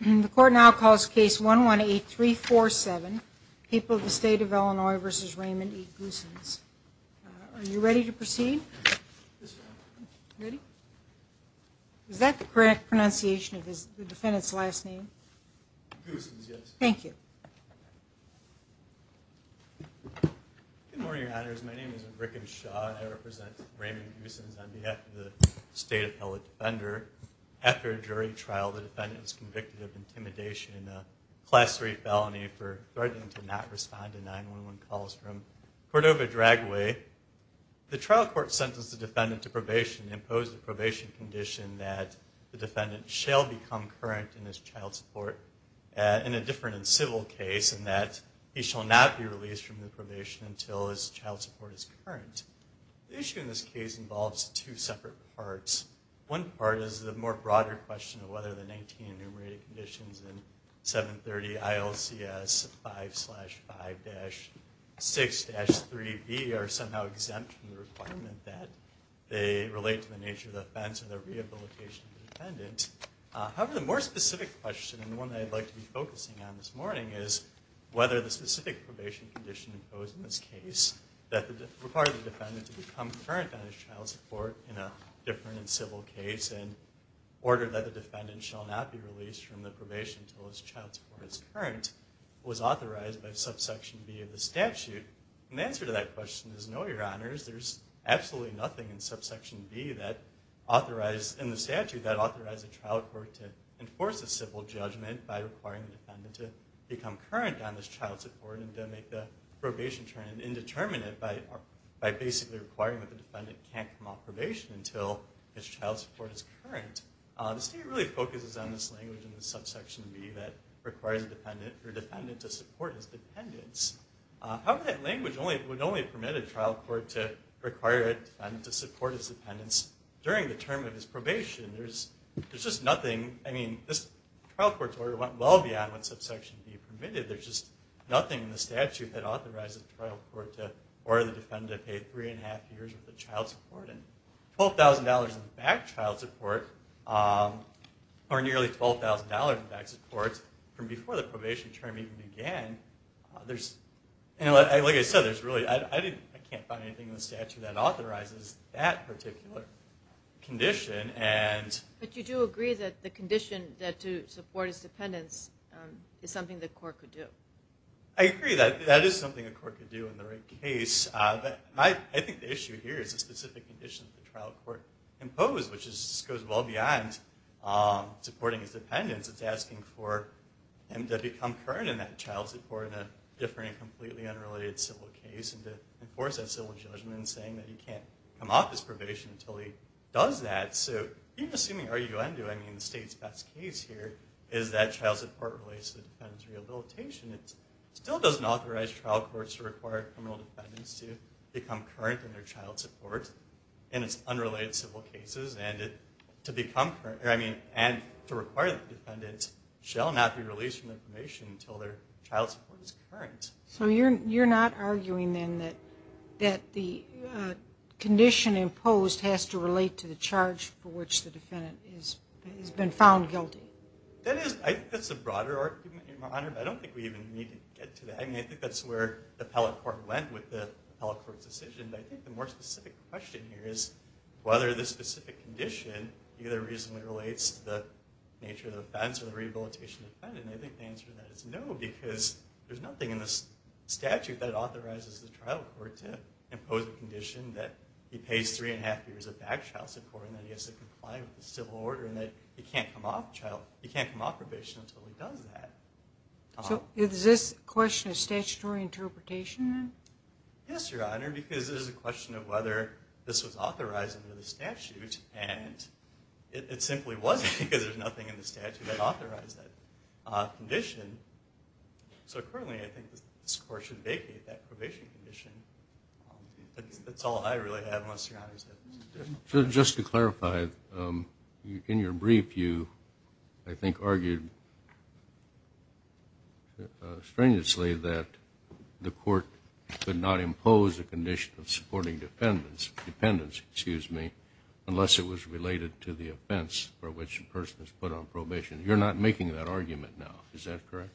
The court now calls case 118347, People of the State of Illinois v. Raymond E. Goosens. Are you ready to proceed? Ready? Is that the correct pronunciation of the defendant's last name? Goosens, yes. Thank you. Good morning, Your Honors. My name is Rickenshaw. I represent Raymond Goosens on behalf of the State Appellate Defender. After a jury trial, the defendant was convicted of intimidation in a Class III felony for threatening to not respond to 911 calls from Cordova Dragway. The trial court sentenced the defendant to probation and imposed a probation condition that the defendant shall become current in his child support in a different and civil case and that he shall not be released from the probation until his child support is current. The issue in this case involves two separate parts. One part is the more broader question of whether the 19 enumerated conditions in 730 ILCS 5-5-6-3B are somehow exempt from the requirement that they relate to the nature of the offense or the rehabilitation of the defendant. However, the more specific question and the one I'd like to be focusing on this morning is whether the specific probation condition imposed in this case that required the defendant to become current on his child support in a different and civil case in order that the defendant shall not be released from the probation until his child support is current was authorized by subsection B of the statute. And the answer to that question is no, Your Honors. There's absolutely nothing in subsection B that authorized in the statute that authorized the trial court to enforce a civil judgment by requiring the defendant to become current on his child support and to make the probation term indeterminate by basically requiring that the defendant can't come off probation until his child support is current. The statute really focuses on this language in the subsection B that requires the defendant to support his dependence. However, that language would only permit a trial court to require a defendant to support his dependence during the term of his probation. There's just nothing. I mean, this trial court's order went well beyond what subsection B permitted. There's just nothing in the statute that authorizes the trial court or the defendant to pay three and a half years worth of child support. And $12,000 in back child support or nearly $12,000 in back support from before the probation term even began, like I said, I can't find anything in the statute that authorizes that particular condition. But you do agree that the condition to support his dependence is something the court could do. I agree that that is something the court could do in the right case. I think the issue here is a specific condition that the trial court imposed, which goes well beyond supporting his dependence. It's asking for him to become current in that child support in a different and completely unrelated civil case and to enforce that civil judgment in saying that he can't come off his probation until he does that. So even assuming R.U.N. doing the state's best case here is that child support relates to the defendant's rehabilitation, it still doesn't authorize trial courts to require criminal defendants to become current in their child support in its unrelated civil cases and to require the defendant shall not be released from the probation until their child support is current. So you're not arguing then that the condition imposed has to relate to the charge for which the defendant has been found guilty? I think that's a broader argument, Your Honor, but I don't think we even need to get to that. I think that's where the appellate court went with the appellate court's decision. But I think the more specific question here is whether this specific condition either reasonably relates to the nature of the offense or the rehabilitation of the defendant. And I think the answer to that is no, because there's nothing in the statute that authorizes the trial court to impose a condition that he pays three and a half years of back child support and that he has to comply with the civil order and that he can't come off probation until he does that. So is this a question of statutory interpretation then? Yes, Your Honor, because there's a question of whether this was authorized under the statute, and it simply wasn't because there's nothing in the statute that authorized that condition. So currently I think this court should vacate that probation condition. That's all I really have, unless Your Honor's have additional questions. So just to clarify, in your brief you, I think, argued strenuously that the court could not impose a condition of supporting dependence unless it was related to the offense for which the person is put on probation. You're not making that argument now, is that correct?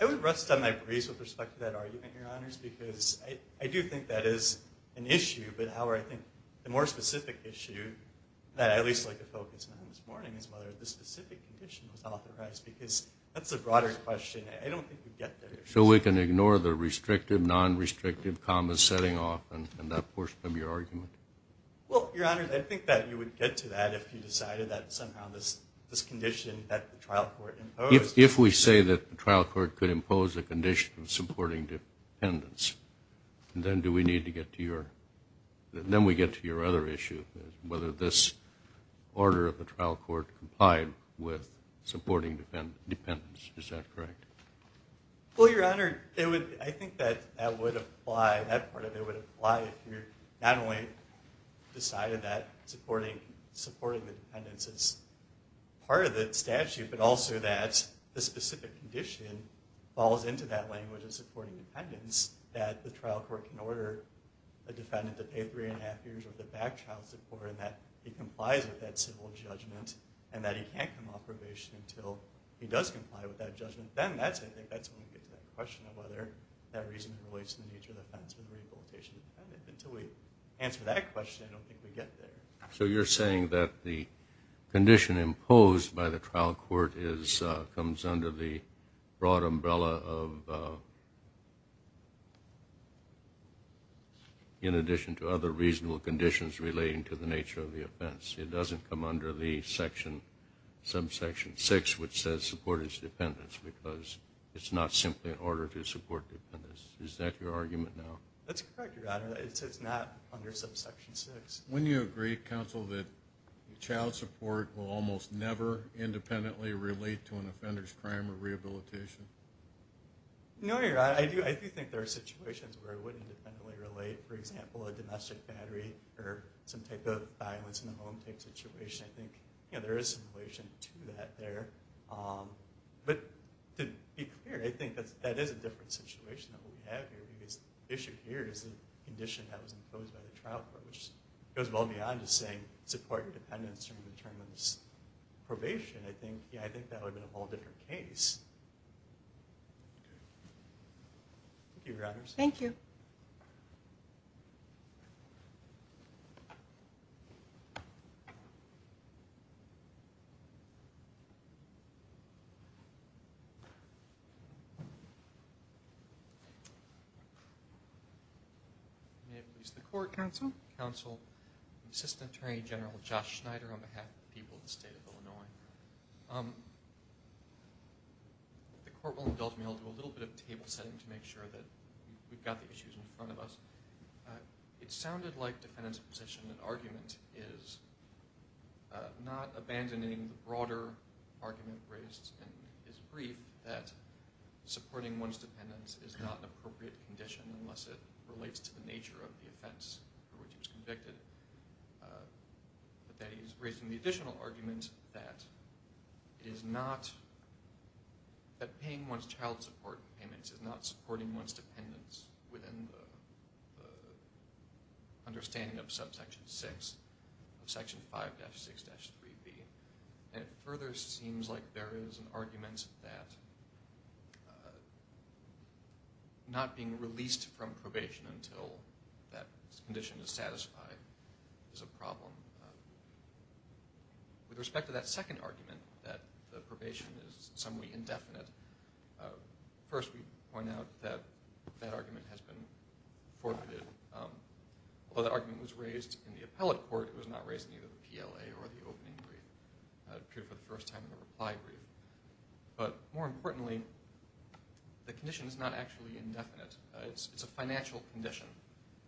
I would rest on my brace with respect to that argument, Your Honors, because I do think that is an issue. But, however, I think the more specific issue that I'd at least like to focus on this morning is whether this specific condition was authorized, because that's a broader question. I don't think we'd get there. So we can ignore the restrictive, non-restrictive, comma setting off in that portion of your argument? Well, Your Honor, I think that you would get to that if you decided that somehow this condition that the trial court imposed If we say that the trial court could impose a condition of supporting dependence, then we get to your other issue, whether this order of the trial court complied with supporting dependence. Is that correct? Well, Your Honor, I think that part of it would apply if you not only decided that supporting the dependence is part of the statute, but also that the specific condition falls into that language of supporting dependence, that the trial court can order a defendant to pay three and a half years worth of back trial support, and that he complies with that civil judgment, and that he can't come off probation until he does comply with that judgment. Then that's it. I think that's when we get to that question of whether that reason relates to the nature of the offense or the rehabilitation of the defendant. Until we answer that question, I don't think we get there. So you're saying that the condition imposed by the trial court comes under the broad umbrella of, in addition to other reasonable conditions relating to the nature of the offense. It doesn't come under the subsection 6, which says support is dependence, because it's not simply an order to support dependence. Is that your argument now? That's correct, Your Honor. It's not under subsection 6. Wouldn't you agree, counsel, that child support will almost never independently relate to an offender's crime or rehabilitation? No, Your Honor. I do think there are situations where it would independently relate. For example, a domestic battery or some type of violence in the home type situation. I think there is some relation to that there. But to be clear, I think that is a different situation than what we have here, because the issue here is the condition that was imposed by the trial court, which goes well beyond just saying support dependence in terms of probation. I think that would be a whole different case. Thank you, Your Honors. Thank you. May it please the court. Counsel. Counsel. Assistant Attorney General Josh Schneider on behalf of the people of the state of Illinois. The court will indulge me. I'll do a little bit of table setting to make sure that we've got the issues in front of us. It sounded like defendant's position and argument is not abandoning the broader argument raised in his brief that supporting one's dependence is not an appropriate condition unless it relates to the nature of the offense for which he was convicted. But that he's raising the additional argument that it is not, that paying one's child support payments is not supporting one's dependence within the understanding of subsection 6 of section 5-6-3b. And it further seems like there is an argument that not being released from probation until that condition is satisfied is a problem. With respect to that second argument, that the probation is somewhat indefinite, first we point out that that argument has been forfeited. Although that argument was raised in the appellate court, it was not raised in either the PLA or the opening brief. It appeared for the first time in the reply brief. But more importantly, the condition is not actually indefinite. It's a financial condition.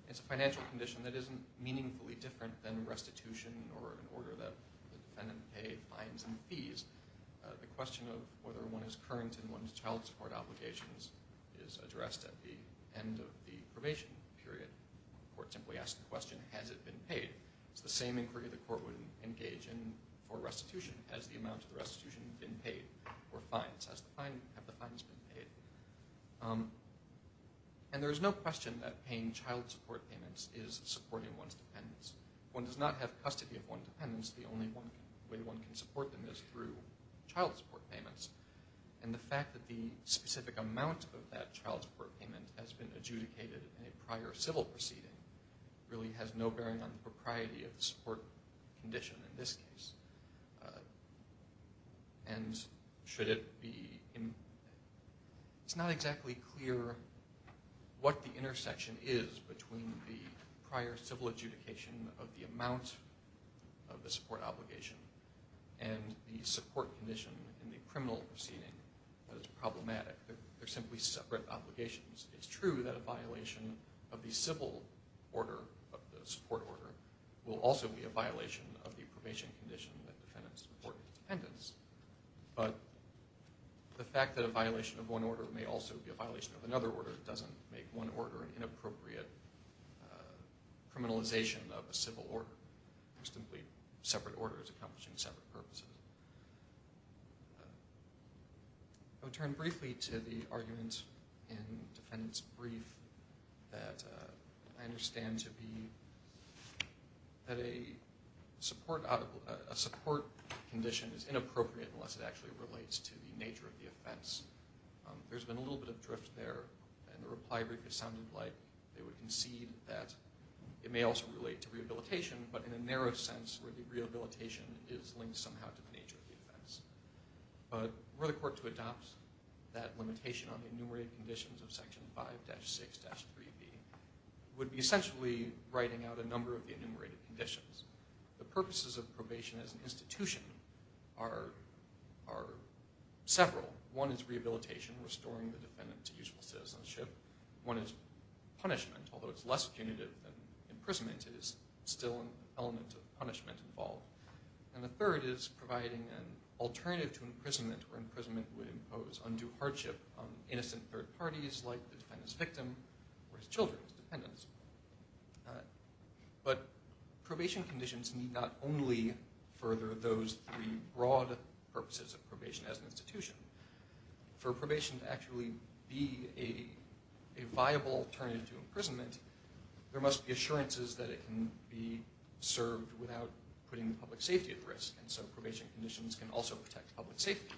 It's a financial condition that isn't meaningfully different than restitution or an order that the defendant pays fines and fees. The question of whether one is current in one's child support obligations is addressed at the end of the probation period. The court simply asks the question, has it been paid? It's the same inquiry the court would engage in for restitution. Has the amount of the restitution been paid for fines? Have the fines been paid? And there is no question that paying child support payments is supporting one's dependence. If one does not have custody of one's dependence, the only way one can support them is through child support payments. And the fact that the specific amount of that child support payment has been adjudicated in a prior civil proceeding really has no bearing on the propriety of the support condition in this case. It's not exactly clear what the intersection is between the prior civil adjudication of the amount of the support obligation and the support condition in the criminal proceeding that is problematic. They're simply separate obligations. It's true that a violation of the civil order, of the support order, will also be a violation of the probation condition that defendants support dependence. But the fact that a violation of one order may also be a violation of another order doesn't make one order an inappropriate criminalization of a civil order. They're simply separate orders accomplishing separate purposes. I would turn briefly to the argument in defendant's brief that I understand to be that a support condition is inappropriate unless it actually relates to the nature of the offense. There's been a little bit of drift there, and the reply briefly sounded like they would concede that it may also relate to rehabilitation, but in a narrow sense where the rehabilitation is linked somehow to the nature of the offense. But were the court to adopt that limitation on the enumerated conditions of Section 5-6-3b, it would be essentially writing out a number of the enumerated conditions. The purposes of probation as an institution are several. One is rehabilitation, restoring the defendant to useful citizenship. One is punishment, although it's less punitive than imprisonment. It is still an element of punishment involved. And the third is providing an alternative to imprisonment, where imprisonment would impose undue hardship on innocent third parties like the defendant's victim or his children's dependents. But probation conditions need not only further those three broad purposes of probation as an institution. For probation to actually be a viable alternative to imprisonment, there must be assurances that it can be served without putting public safety at risk, and so probation conditions can also protect public safety.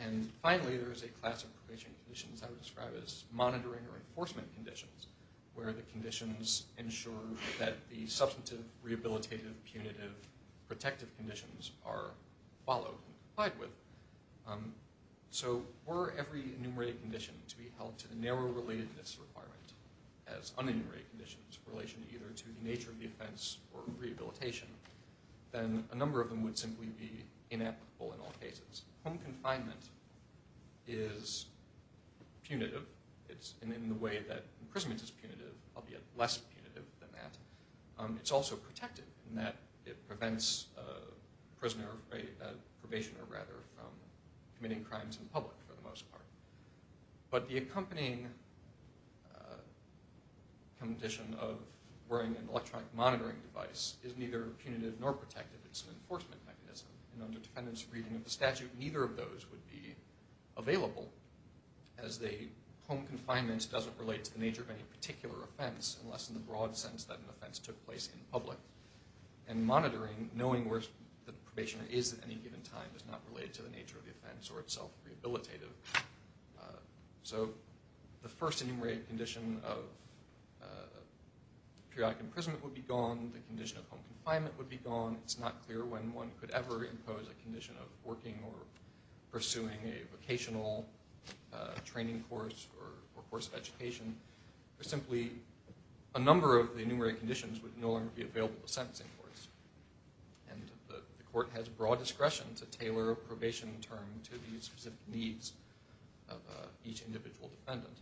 And finally, there is a class of probation conditions I would describe as monitoring or enforcement conditions, where the conditions ensure that the substantive, rehabilitative, punitive, protective conditions are followed and complied with. So were every enumerated condition to be held to the narrow relatedness requirement as unenumerated conditions in relation either to the nature of the offense or rehabilitation, then a number of them would simply be inapplicable in all cases. Home confinement is punitive in the way that imprisonment is punitive, albeit less punitive than that. It's also protected in that it prevents a prisoner, a probationer rather, from committing crimes in public for the most part. But the accompanying condition of wearing an electronic monitoring device is neither punitive nor protective. It's an enforcement mechanism, and under defendant's reading of the statute, neither of those would be available, as home confinement doesn't relate to the nature of any particular offense unless in the broad sense that an offense took place in public. And monitoring, knowing where the probationer is at any given time, is not related to the nature of the offense or itself rehabilitative. So the first enumerated condition of periodic imprisonment would be gone. The condition of home confinement would be gone. It's not clear when one could ever impose a condition of working or pursuing a vocational training course or course of education. There's simply a number of enumerated conditions would no longer be available to sentencing courts. And the court has broad discretion to tailor a probation term to the specific needs of each individual defendant.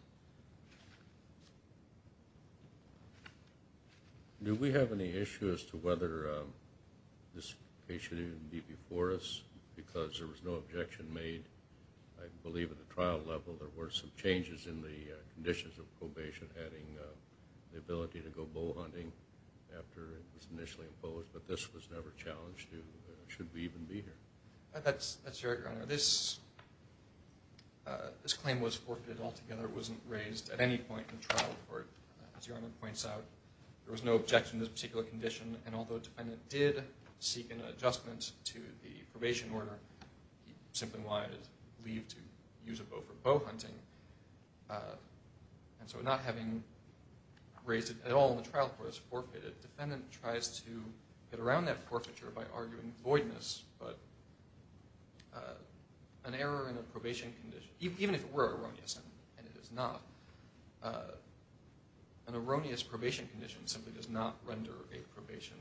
Do we have any issue as to whether this case should even be before us? Because there was no objection made, I believe, at the trial level. There were some changes in the conditions of probation, adding the ability to go bow hunting after it was initially imposed, but this was never challenged. Should we even be here? That's right, Your Honor. This claim was forfeited altogether. It wasn't raised at any point in the trial report, as Your Honor points out. There was no objection to this particular condition, and although the defendant did seek an adjustment to the probation order, simply why it is believed to use a bow for bow hunting, and so not having raised it at all in the trial court as forfeited, the defendant tries to get around that forfeiture by arguing voidness, but an error in a probation condition, even if it were erroneous, and it is not, an erroneous probation condition simply does not render a probation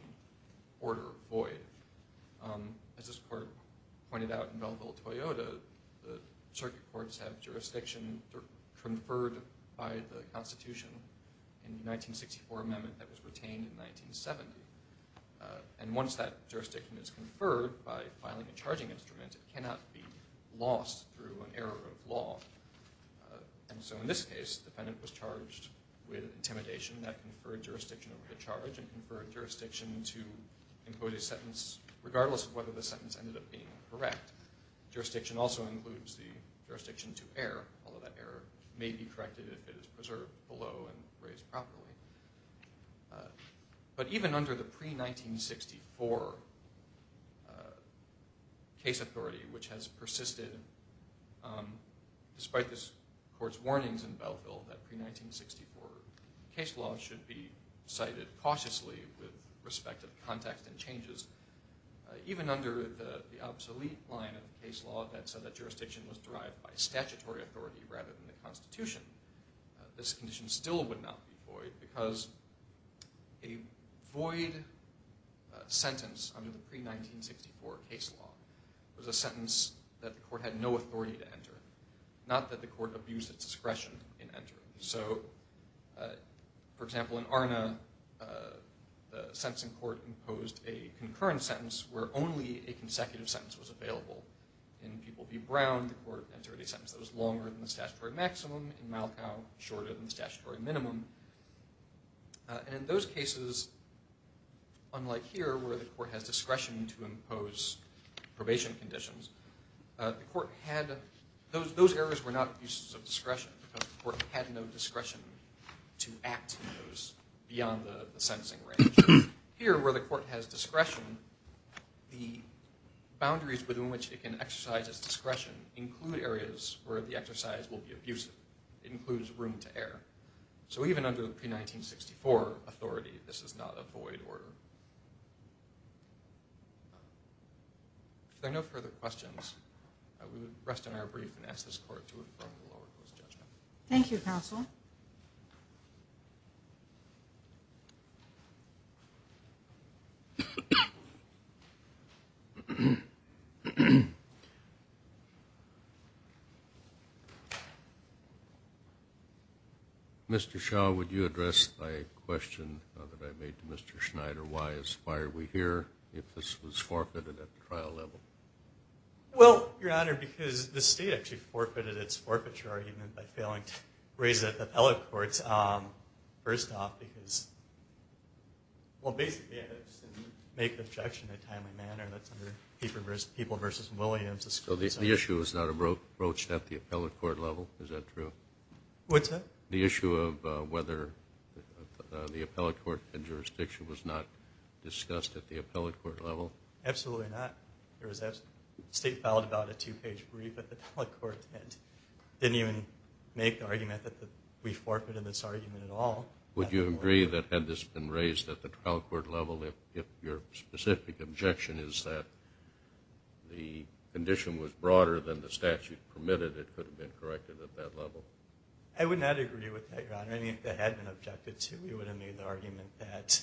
order void. As this court pointed out in Belleville-Toyota, the circuit courts have jurisdiction conferred by the Constitution in the 1964 amendment that was retained in 1970, and once that jurisdiction is conferred by filing a charging instrument, it cannot be lost through an error of law, and so in this case, the defendant was charged with intimidation. That conferred jurisdiction over the charge and that jurisdiction conferred jurisdiction to include a sentence, regardless of whether the sentence ended up being correct. Jurisdiction also includes the jurisdiction to err, although that error may be corrected if it is preserved below and raised properly, but even under the pre-1964 case authority, which has persisted, despite this court's warnings in Belleville that pre-1964 case law should be cited cautiously with respect to context and changes, even under the obsolete line of case law that said that jurisdiction was derived by statutory authority rather than the Constitution, this condition still would not be void, because a void sentence under the pre-1964 case law was a sentence that the court had no authority to enter, not that the court abused its discretion in entering. So, for example, in Arna, the sentencing court imposed a concurrent sentence where only a consecutive sentence was available. In People v. Brown, the court entered a sentence that was longer than the statutory maximum. In Malcow, shorter than the statutory minimum. And in those cases, unlike here, where the court has discretion to impose probation conditions, the court had, those errors were not abuses of discretion because the court had no discretion to act in those beyond the sentencing range. Here, where the court has discretion, the boundaries within which it can exercise its discretion include areas where the exercise will be abusive. It includes room to err. So even under the pre-1964 authority, this is not a void order. If there are no further questions, we would rest on our brief and ask this court to inform the lower court's judgment. Thank you, counsel. Mr. Shaw, would you address my question that I made to Mr. Schneider, why are we here if this was forfeited at the trial level? Well, Your Honor, because the state actually forfeited its forfeiture argument by failing to raise it at the appellate courts. First off, because, well, basically, I just didn't make the objection in a timely manner. That's under People v. Williams. So the issue is not approached at the appellate court level? Is that true? What's that? The issue of whether the appellate court jurisdiction was not discussed at the appellate court level? Absolutely not. The state filed about a two-page brief at the appellate court and didn't even make the argument that we forfeited this argument at all. Would you agree that had this been raised at the trial court level, if your specific objection is that the condition was broader than the statute permitted, it could have been corrected at that level? I would not agree with that, Your Honor. I mean, if it had been objected to, we would have made the argument that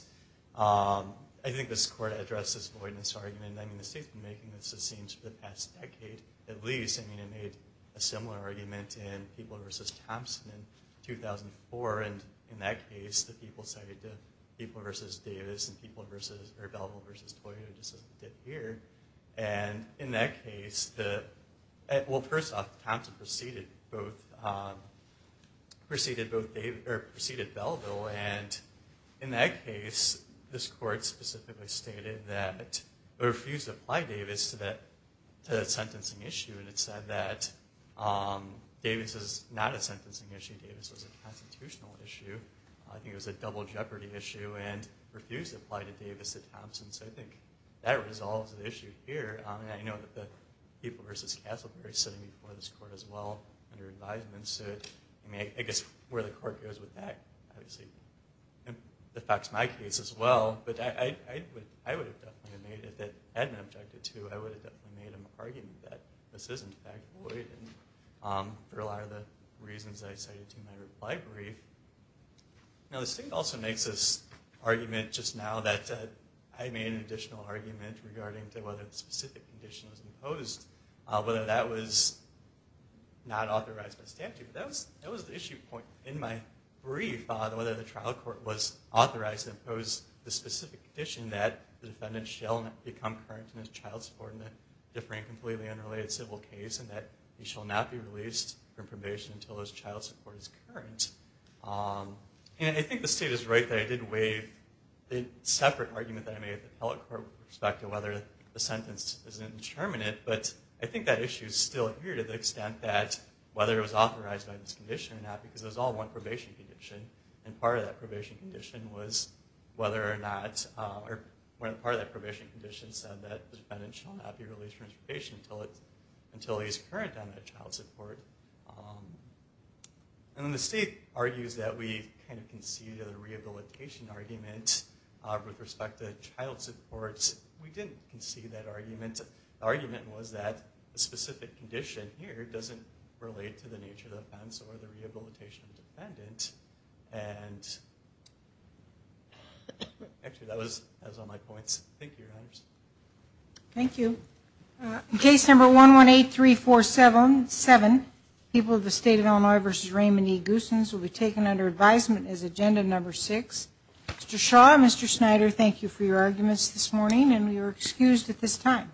I think this court addressed this void in its argument. I mean, the state's been making this, it seems, for the past decade at least. I mean, it made a similar argument in People v. Thompson in 2004. And in that case, the people sided to People v. Davis and People v. or Bellevue v. Toyota, just as it did here. And in that case, well, first off, Thompson preceded Bellevue. And in that case, this court specifically stated that it refused to apply Davis to that sentencing issue. And it said that Davis is not a sentencing issue. Davis was a constitutional issue. I think it was a double jeopardy issue and refused to apply to Davis at Thompson. So I think that resolves the issue here. And I know that the People v. Castleberry is sitting before this court as well under advisement. So I guess where the court goes with that, obviously. It affects my case as well. But I would have definitely made it that had it been objected to, I would have definitely made an argument that this is, in fact, void. And for a lot of the reasons I cited to my reply brief. Now this thing also makes this argument just now that I made an additional argument regarding to whether the specific condition was imposed, whether that was not authorized by statute. But that was the issue point in my brief, whether the trial court was authorized to impose the specific condition that the defendant shall not become current in his child support in a differing, completely unrelated civil case, and that he shall not be released from probation until his child support is current. And I think the state is right that I did waive the separate argument that I made at the appellate court with respect to whether the sentence is indeterminate. But I think that issue is still here to the extent that whether it was authorized by this condition or not. Because it was all one probation condition. And part of that probation condition was whether or not, or part of that probation condition said that the defendant shall not be released from his probation until he is current on the child support. And then the state argues that we kind of conceded a rehabilitation argument with respect to child support. We didn't concede that argument. The argument was that the specific condition here doesn't relate to the nature of the offense or the rehabilitation of the defendant. And actually, that was on my points. Thank you, Your Honors. Thank you. Case number 1183477, People of the State of Illinois v. Raymond E. Goossens, will be taken under advisement as agenda number six. Mr. Shaw and Mr. Snyder, thank you for your arguments this morning. And we are excused at this time.